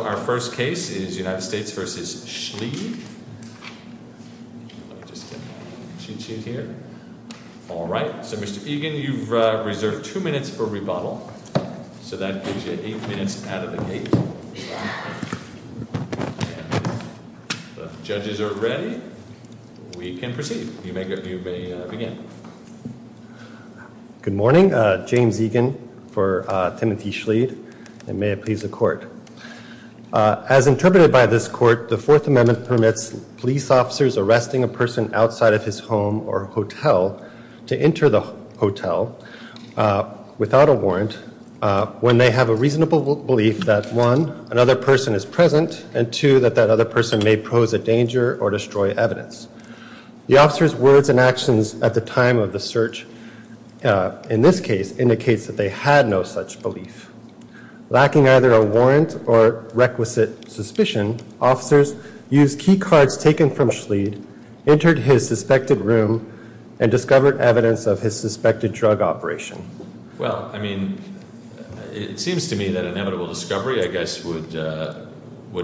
Alright, so Mr. Egan, you've reserved two minutes for rebuttal. So that gives you 8 minutes out of the gate. Judges are ready. We can proceed. You may begin. Good morning. James Egan for Timothy Schleede and may it please the court. As interpreted by this court, the Fourth Amendment permits police officers arresting a person outside of his home or hotel to enter the hotel without a warrant when they have a reasonable belief that 1. another person is present and 2. that that other person may pose a danger or destroy evidence. The officer's words and actions at the time of the search in this case indicates that they had no such belief. Lacking either a warrant or requisite suspicion, officers used key cards taken from Schleede, entered his suspected room, and discovered evidence of his suspected drug operation. Well, I mean, it seems to me that inevitable discovery, I guess, would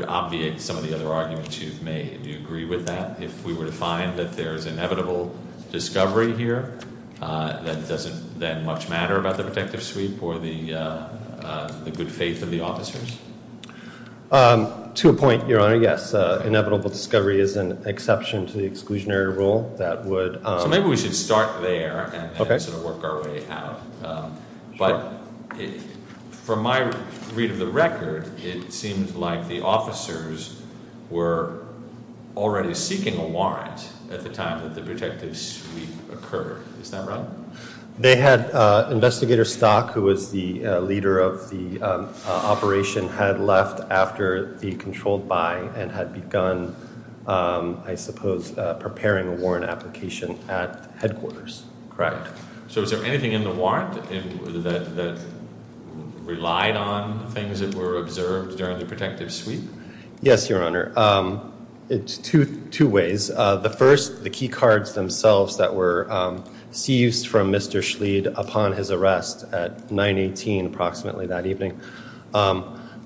obviate some of the other arguments you've made. Do you agree with that? If we were to find that there is inevitable discovery here, that doesn't then much matter about the protective sweep or the good faith of the officers? To a point, Your Honor, yes. Inevitable discovery is an exception to the exclusionary rule that would Maybe we should start there and sort of work our way out. But from my read of the record, it seems like the officers were already seeking a warrant at the time that the protective sweep occurred. Is that right? They had investigator Stock, who was the leader of the operation, had left after the controlled buy and had begun, I suppose, preparing a warrant application at headquarters. Correct. So is there anything in the warrant that relied on things that were observed during the protective sweep? Yes, Your Honor. It's two ways. The first, the key cards themselves that were seized from Mr. Schleede upon his arrest at 918, approximately that evening,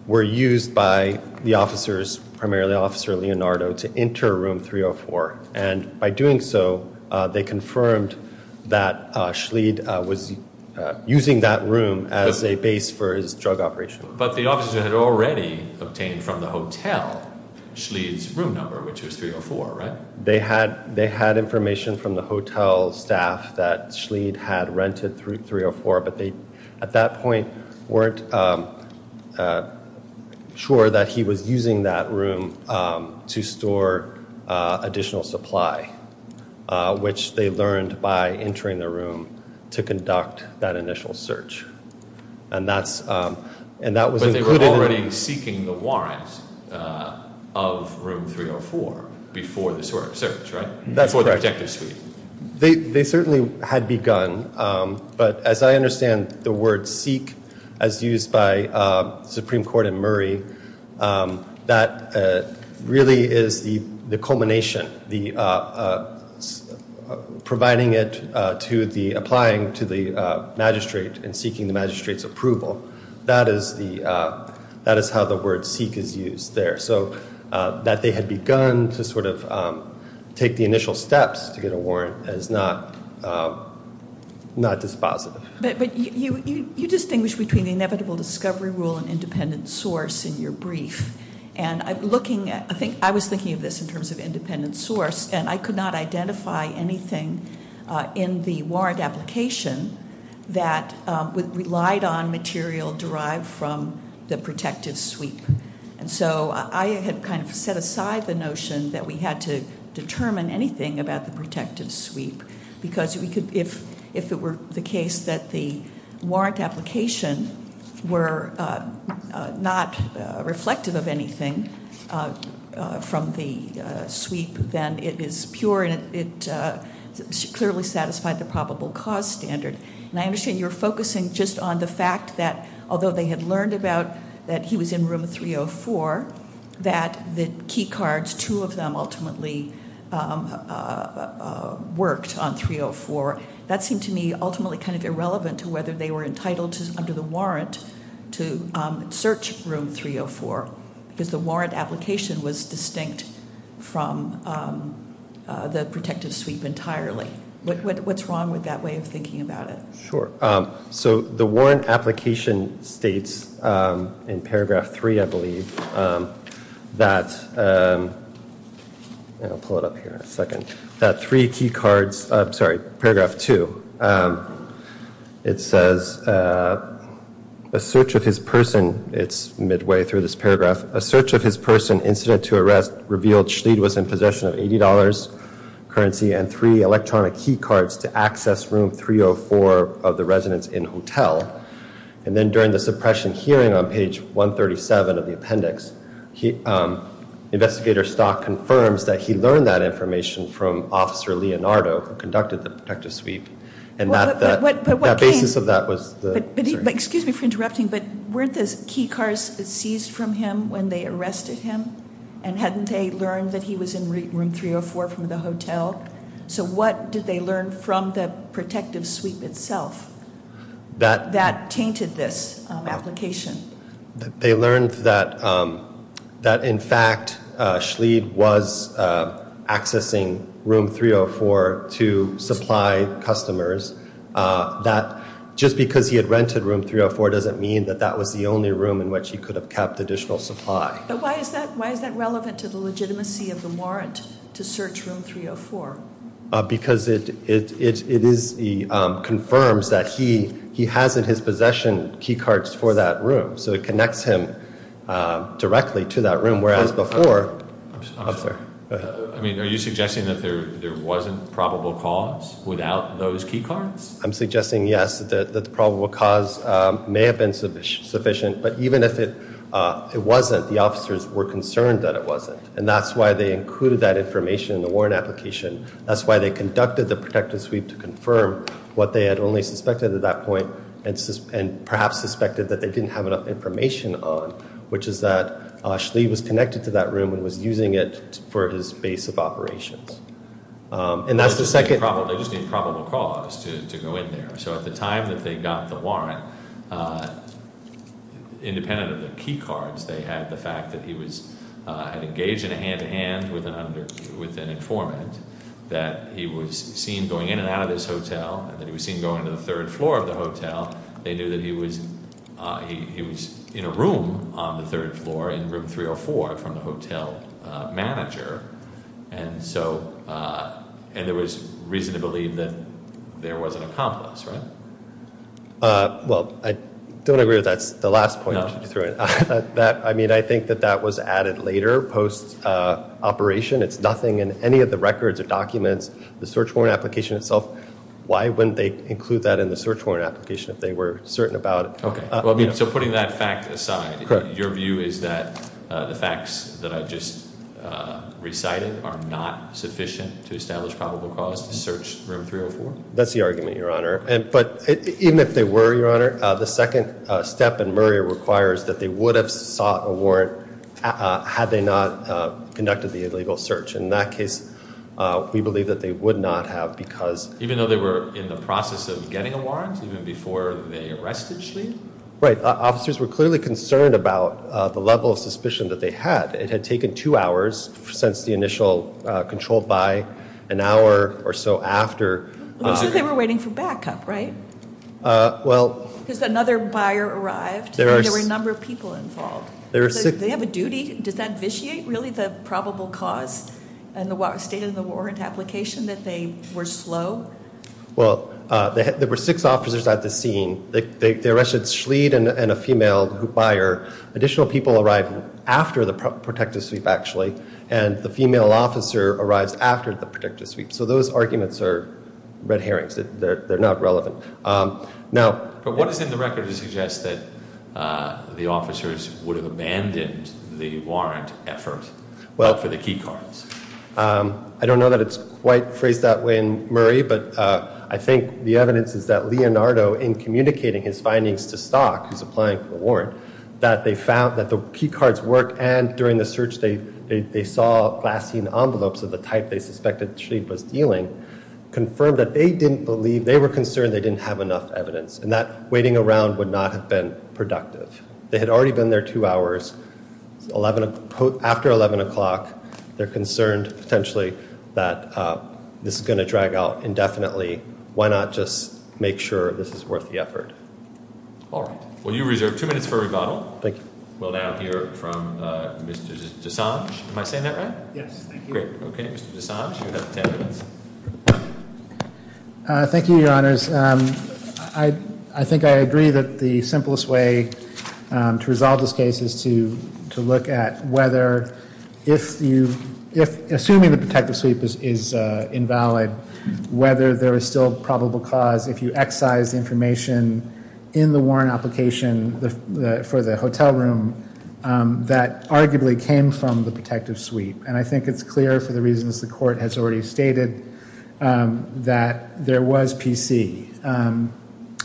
were used by the officers, primarily Officer Leonardo, to enter room 304. And by doing so, they confirmed that Schleede was using that room as a base for his drug operation. But the officers had already obtained from the hotel Schleede's room number, which was 304, right? They had information from the hotel staff that Schleede had rented room 304, but they, at that point, weren't sure that he was using that room to store additional supply, which they learned by entering the room to conduct that initial search. But they were already seeking the warrants of room 304 before the search, right? That's correct. Before the protective sweep. They certainly had begun, but as I understand the word seek, as used by the Supreme Court in Murray, that really is the culmination, providing it to the, applying to the magistrate and seeking the magistrate's approval. That is how the word seek is used there. So that they had begun to sort of take the initial steps to get a warrant is not dispositive. But you distinguish between the inevitable discovery rule and independent source in your brief. And I'm looking at, I was thinking of this in terms of independent source, and I could not identify anything in the warrant application that relied on material derived from the protective sweep. And so I had kind of set aside the notion that we had to determine anything about the protective sweep. Because we could, if it were the case that the warrant application were not reflective of anything from the sweep, then it is pure and it clearly satisfied the probable cause standard. And I understand you're focusing just on the fact that although they had learned about that he was in room 304, that the key cards, two of them ultimately worked on 304. That seemed to me ultimately kind of irrelevant to whether they were entitled under the warrant to search room 304. Because the warrant application was distinct from the protective sweep entirely. What's wrong with that way of thinking about it? Sure. So the warrant application states in paragraph three, I believe, that, I'll pull it up here in a second. That three key cards, I'm sorry, paragraph two, it says, a search of his person, it's midway through this paragraph, a search of his person, incident to arrest, revealed Schleid was in possession of $80 currency and three electronic key cards to access room 304 of the residence in hotel. And then during the suppression hearing on page 137 of the appendix, investigator Stock confirms that he learned that information from officer Leonardo, who conducted the protective sweep. And that basis of that was the- Excuse me for interrupting, but weren't those key cards seized from him when they arrested him? And hadn't they learned that he was in room 304 from the hotel? So what did they learn from the protective sweep itself that tainted this application? They learned that, in fact, Schleid was accessing room 304 to supply customers. That just because he had rented room 304 doesn't mean that that was the only room in which he could have kept additional supply. But why is that relevant to the legitimacy of the warrant to search room 304? Because it confirms that he has in his possession key cards for that room. So it connects him directly to that room, whereas before- I'm sorry. Go ahead. I mean, are you suggesting that there wasn't probable cause without those key cards? I'm suggesting, yes, that the probable cause may have been sufficient. But even if it wasn't, the officers were concerned that it wasn't. And that's why they included that information in the warrant application. That's why they conducted the protective sweep to confirm what they had only suspected at that point and perhaps suspected that they didn't have enough information on, which is that Schleid was connected to that room and was using it for his base of operations. And that's the second- They just need probable cause to go in there. So at the time that they got the warrant, independent of the key cards they had, the fact that he was engaged in a hand-to-hand with an informant, that he was seen going in and out of this hotel, that he was seen going to the third floor of the hotel, they knew that he was in a room on the third floor in room 304 from the hotel manager. And there was reason to believe that there was an accomplice, right? Well, I don't agree with that. It's the last point that you threw in. I mean, I think that that was added later post-operation. It's nothing in any of the records or documents, the search warrant application itself. Why wouldn't they include that in the search warrant application if they were certain about it? Okay. So putting that fact aside, your view is that the facts that I just recited are not sufficient to establish probable cause to search room 304? That's the argument, Your Honor. But even if they were, Your Honor, the second step in Murray requires that they would have sought a warrant had they not conducted the illegal search. In that case, we believe that they would not have because- Even though they were in the process of getting a warrant even before they arrested Schlieff? Right. Officers were clearly concerned about the level of suspicion that they had. It had taken two hours since the initial controlled by, an hour or so after- So they were waiting for backup, right? Well- Because another buyer arrived and there were a number of people involved. They have a duty. Does that vitiate really the probable cause and the state of the warrant application that they were slow? Well, there were six officers at the scene. They arrested Schlieff and a female buyer. Additional people arrived after the protective sweep, actually, and the female officer arrived after the protective sweep. So those arguments are red herrings. They're not relevant. Now- But what is in the record to suggest that the officers would have abandoned the warrant effort for the key cards? I don't know that it's quite phrased that way in Murray, but I think the evidence is that Leonardo, in communicating his findings to Stock, who's applying for the warrant, that they found that the key cards worked and during the search they saw glassine envelopes of the type they suspected Schlieff was dealing, confirmed that they didn't believe- they were concerned they didn't have enough evidence and that waiting around would not have been productive. They had already been there two hours. After 11 o'clock, they're concerned potentially that this is going to drag out indefinitely. Why not just make sure this is worth the effort? All right. Well, you reserve two minutes for rebuttal. Thank you. We'll now hear from Mr. Desange. Am I saying that right? Yes, thank you. Great. Okay, Mr. Desange, you have ten minutes. Thank you, Your Honors. I think I agree that the simplest way to resolve this case is to look at whether if you- assuming the protective sweep is invalid, whether there is still probable cause, if you excise information in the warrant application for the hotel room that arguably came from the protective sweep. And I think it's clear for the reasons the court has already stated that there was PC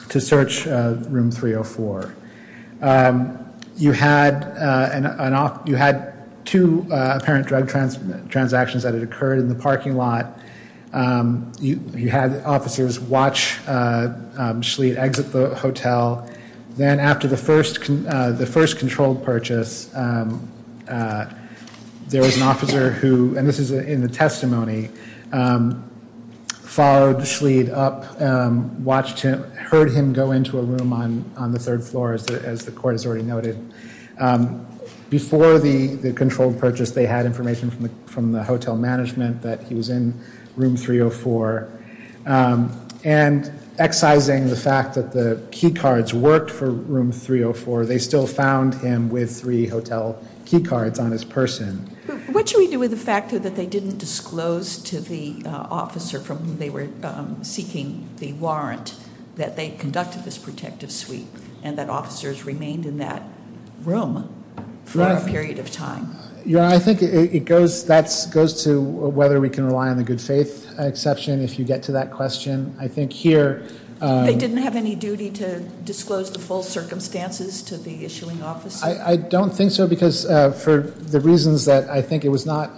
to search room 304. You had two apparent drug transactions that had occurred in the parking lot. You had officers watch Schlieff exit the hotel. Then after the first controlled purchase, there was an officer who- and this is in the testimony- followed Schlieff up, watched him, heard him go into a room on the third floor, as the court has already noted. Before the controlled purchase, they had information from the hotel management that he was in room 304. And excising the fact that the key cards worked for room 304, they still found him with three hotel key cards on his person. What should we do with the fact that they didn't disclose to the officer from whom they were seeking the warrant that they conducted this protective sweep and that officers remained in that room for a period of time? You know, I think that goes to whether we can rely on the good faith exception, if you get to that question. I think here- They didn't have any duty to disclose the full circumstances to the issuing officer? I don't think so, because for the reasons that I think it was not-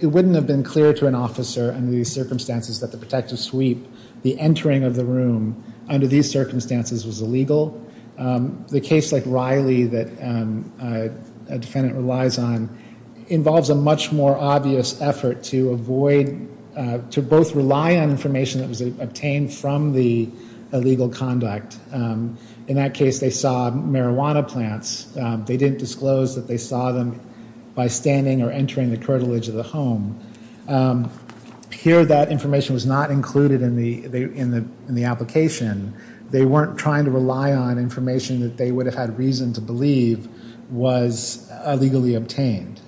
it wouldn't have been clear to an officer under these circumstances that the protective sweep, the entering of the room under these circumstances, was illegal. The case like Riley that a defendant relies on involves a much more obvious effort to avoid- to both rely on information that was obtained from the illegal conduct. In that case, they saw marijuana plants. They didn't disclose that they saw them by standing or entering the curtilage of the home. Here, that information was not included in the application. They weren't trying to rely on information that they would have had reason to believe was illegally obtained.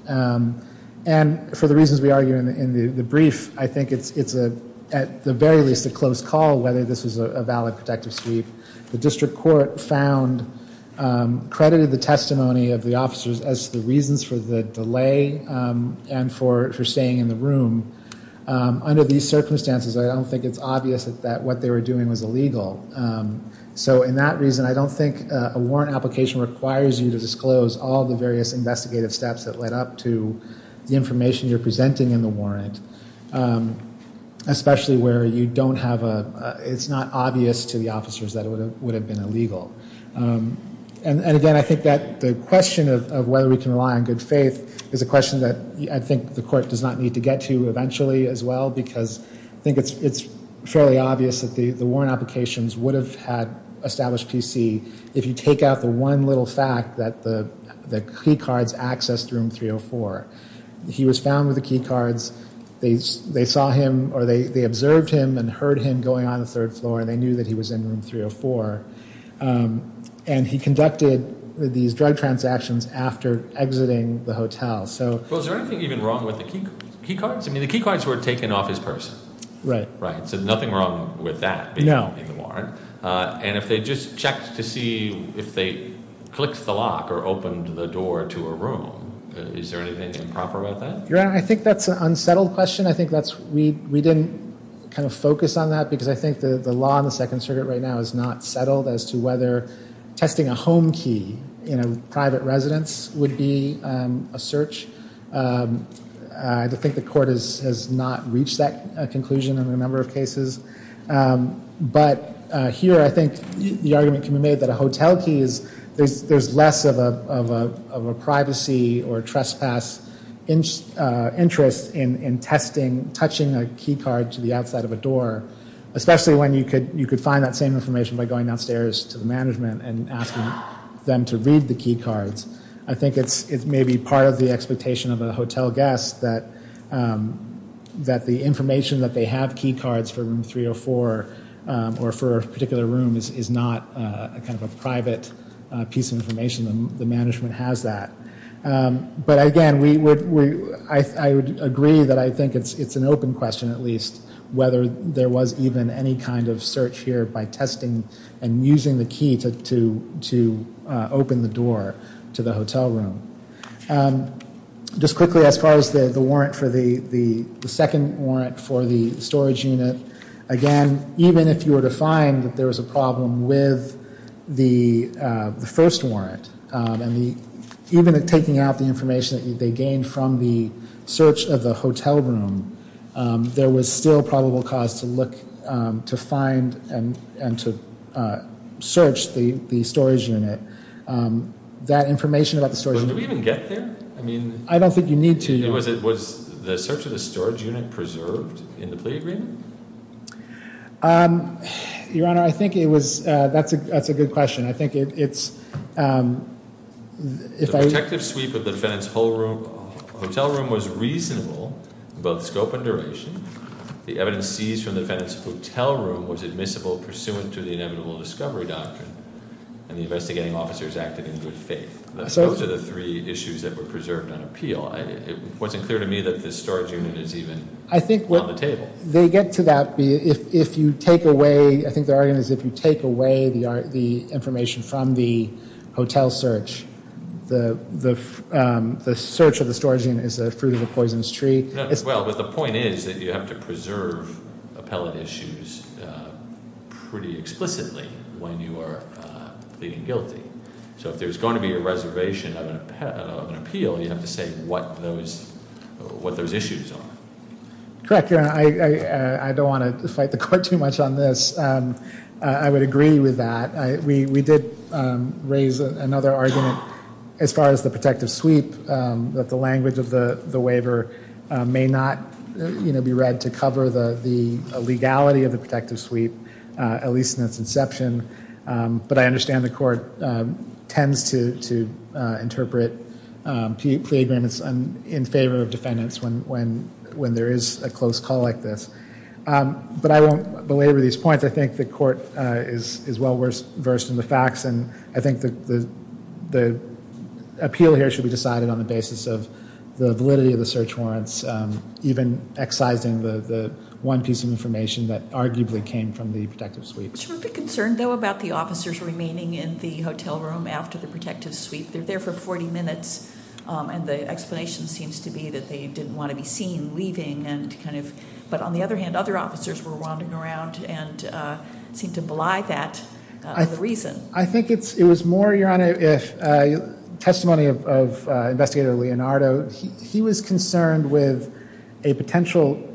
And for the reasons we argue in the brief, I think it's a- at the very least, a close call whether this was a valid protective sweep. The district court found- credited the testimony of the officers as the reasons for the delay and for staying in the room. Under these circumstances, I don't think it's obvious that what they were doing was illegal. So in that reason, I don't think a warrant application requires you to disclose all the various investigative steps that led up to the information you're presenting in the warrant, especially where you don't have a- it's not obvious to the officers that it would have been illegal. And again, I think that the question of whether we can rely on good faith is a question that I think the court does not need to get to eventually as well because I think it's fairly obvious that the warrant applications would have had established PC if you take out the one little fact that the key cards accessed room 304. He was found with the key cards. They saw him or they observed him and heard him going on the third floor and they knew that he was in room 304. And he conducted these drug transactions after exiting the hotel, so- Well, is there anything even wrong with the key cards? I mean, the key cards were taken off his purse. Right. Right, so nothing wrong with that being in the warrant. And if they just checked to see if they clicked the lock or opened the door to a room, is there anything improper about that? Your Honor, I think that's an unsettled question. I think that's- we didn't kind of focus on that because I think the law in the Second Circuit right now is not settled as to whether testing a home key in a private residence would be a search. I think the court has not reached that conclusion in a number of cases. But here I think the argument can be made that a hotel key is- there's less of a privacy or trespass interest in testing, touching a key card to the outside of a door, especially when you could find that same information by going downstairs to the management and asking them to read the key cards. I think it may be part of the expectation of a hotel guest that the information that they have key cards for room 304 or for a particular room is not kind of a private piece of information. The management has that. But again, I would agree that I think it's an open question at least whether there was even any kind of search here by testing and using the key to open the door to the hotel room. Just quickly, as far as the warrant for the- the second warrant for the storage unit, again, even if you were to find that there was a problem with the first warrant and even taking out the information that they gained from the search of the hotel room, there was still probable cause to look- to find and to search the storage unit. That information about the storage unit- Did we even get there? I mean- I don't think you need to. Was the search of the storage unit preserved in the plea agreement? Your Honor, I think it was- that's a good question. I think it's- The protective sweep of the defendant's hotel room was reasonable in both scope and duration. The evidence seized from the defendant's hotel room was admissible pursuant to the inevitable discovery doctrine and the investigating officers acted in good faith. Those are the three issues that were preserved on appeal. It wasn't clear to me that the storage unit is even on the table. They get to that if you take away- I think the argument is if you take away the information from the hotel search, the search of the storage unit is the fruit of the poisonous tree. Well, but the point is that you have to preserve appellate issues pretty explicitly when you are pleading guilty. So if there's going to be a reservation of an appeal, you have to say what those issues are. Correct, Your Honor. I don't want to fight the court too much on this. I would agree with that. We did raise another argument as far as the protective sweep, that the language of the waiver may not be read to cover the legality of the protective sweep, at least in its inception. But I understand the court tends to interpret plea agreements in favor of defendants when there is a close call like this. But I won't belabor these points. I think the court is well versed in the facts, and I think the appeal here should be decided on the basis of the validity of the search warrants, even excising the one piece of information that arguably came from the protective sweep. Should we be concerned, though, about the officers remaining in the hotel room after the protective sweep? They're there for 40 minutes, and the explanation seems to be that they didn't want to be seen leaving. But on the other hand, other officers were wandering around and seemed to belie that reason. I think it was more, Your Honor, a testimony of Investigator Leonardo. He was concerned with a potential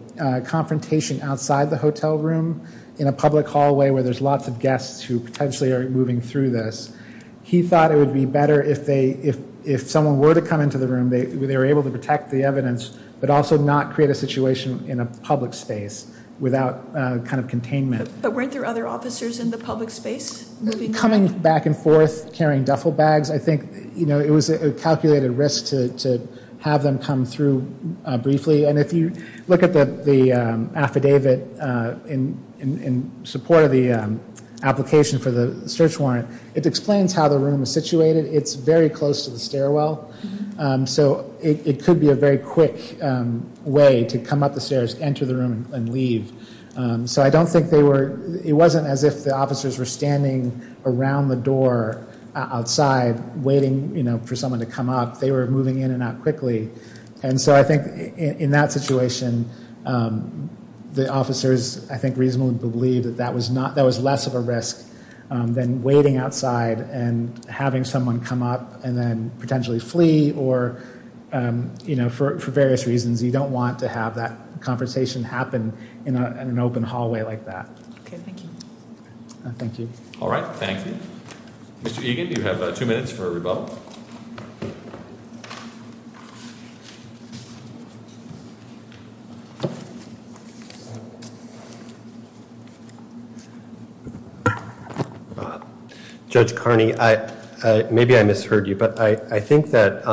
confrontation outside the hotel room in a public hallway where there's lots of guests who potentially are moving through this. He thought it would be better if someone were to come into the room, they were able to protect the evidence, but also not create a situation in a public space without kind of containment. But weren't there other officers in the public space? Coming back and forth, carrying duffel bags. I think it was a calculated risk to have them come through briefly. And if you look at the affidavit in support of the application for the search warrant, it explains how the room is situated. It's very close to the stairwell, so it could be a very quick way to come up the stairs, enter the room, and leave. So I don't think they were, it wasn't as if the officers were standing around the door outside waiting for someone to come up. They were moving in and out quickly. And so I think in that situation, the officers, I think, reasonably believed that that was less of a risk than waiting outside and having someone come up and then potentially flee, or for various reasons, you don't want to have that conversation happen in an open hallway like that. Okay, thank you. Thank you. All right, thank you. Mr. Egan, you have two minutes for rebuttal. Thank you. Judge Carney, maybe I misheard you, but I think that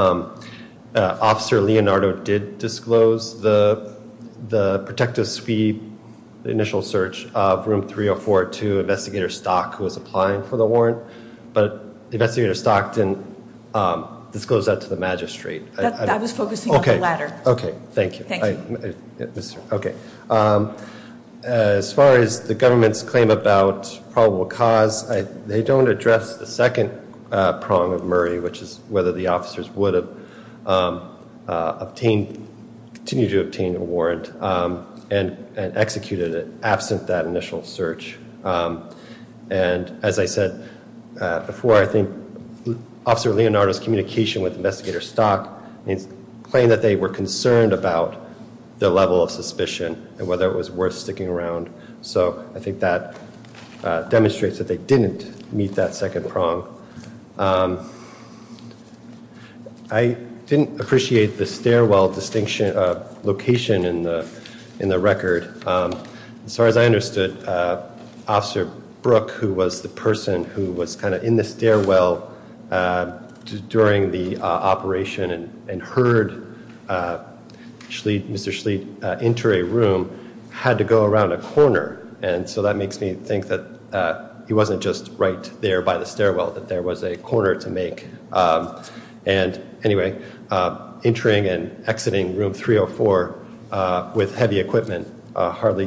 Officer Leonardo did disclose the protective suite, the initial search of Room 304 to Investigator Stock, who was applying for the warrant. But Investigator Stock didn't disclose that to the magistrate. I was focusing on the latter. Okay, thank you. Thank you. Okay. As far as the government's claim about probable cause, they don't address the second prong of Murray, which is whether the officers would have obtained, continued to obtain a warrant and executed it absent that initial search. And as I said before, I think Officer Leonardo's communication with Investigator Stock claimed that they were concerned about the level of suspicion and whether it was worth sticking around. So I think that demonstrates that they didn't meet that second prong. I didn't appreciate the stairwell location in the record. As far as I understood, Officer Brooke, who was the person who was kind of in the stairwell during the operation and heard Mr. Schlicht enter a room, had to go around a corner. And so that makes me think that he wasn't just right there by the stairwell, that there was a corner to make. And anyway, entering and exiting room 304 with heavy equipment hardly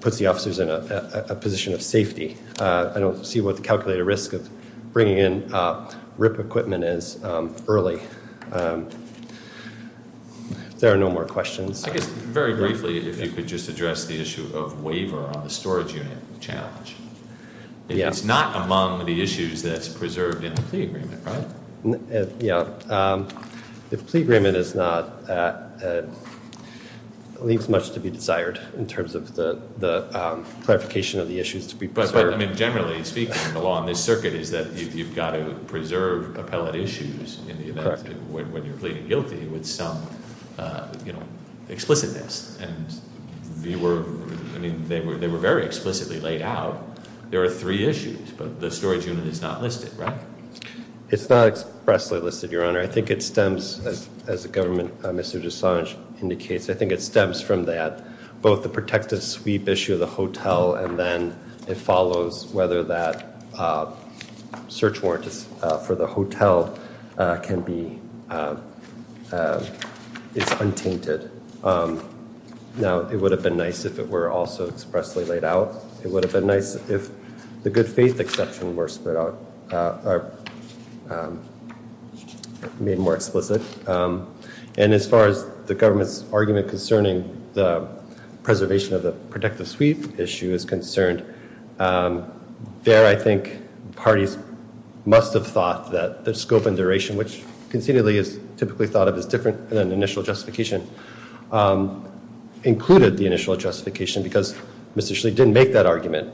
puts the officers in a position of safety. I don't see what the calculated risk of bringing in RIP equipment is early. There are no more questions. I guess very briefly, if you could just address the issue of waiver on the storage unit challenge. It's not among the issues that's preserved in the plea agreement, right? Yeah. The plea agreement leaves much to be desired in terms of the clarification of the issues to be preserved. But generally speaking, the law in this circuit is that you've got to preserve appellate issues in the event when you're pleading guilty with some explicitness. And they were very explicitly laid out. There are three issues, but the storage unit is not listed, right? It's not expressly listed, Your Honor. I think it stems, as the government, Mr. Desange, indicates, I think it stems from that, both the protective sweep issue of the hotel and then it follows whether that search warrant for the hotel is untainted. Now, it would have been nice if it were also expressly laid out. It would have been nice if the good faith exception were made more explicit. And as far as the government's argument concerning the preservation of the protective sweep issue is concerned, there I think parties must have thought that the scope and duration, which concededly is typically thought of as different than initial justification, included the initial justification because Mr. Schley didn't make that argument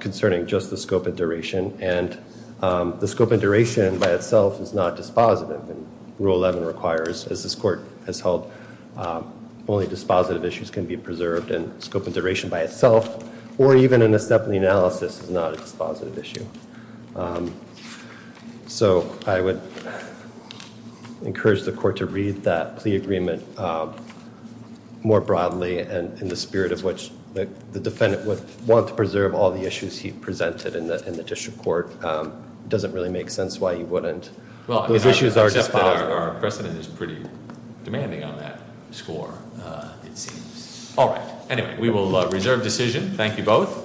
concerning just the scope and duration. And the scope and duration by itself is not dispositive. And Rule 11 requires, as this court has held, only dispositive issues can be preserved. And scope and duration by itself, or even an assembly analysis, is not a dispositive issue. So I would encourage the court to read that plea agreement more broadly. And in the spirit of which the defendant would want to preserve all the issues he presented in the district court, it doesn't really make sense why he wouldn't. Those issues are dispositive. Except that our precedent is pretty demanding on that score, it seems. All right. Anyway, we will reserve decision. Thank you both.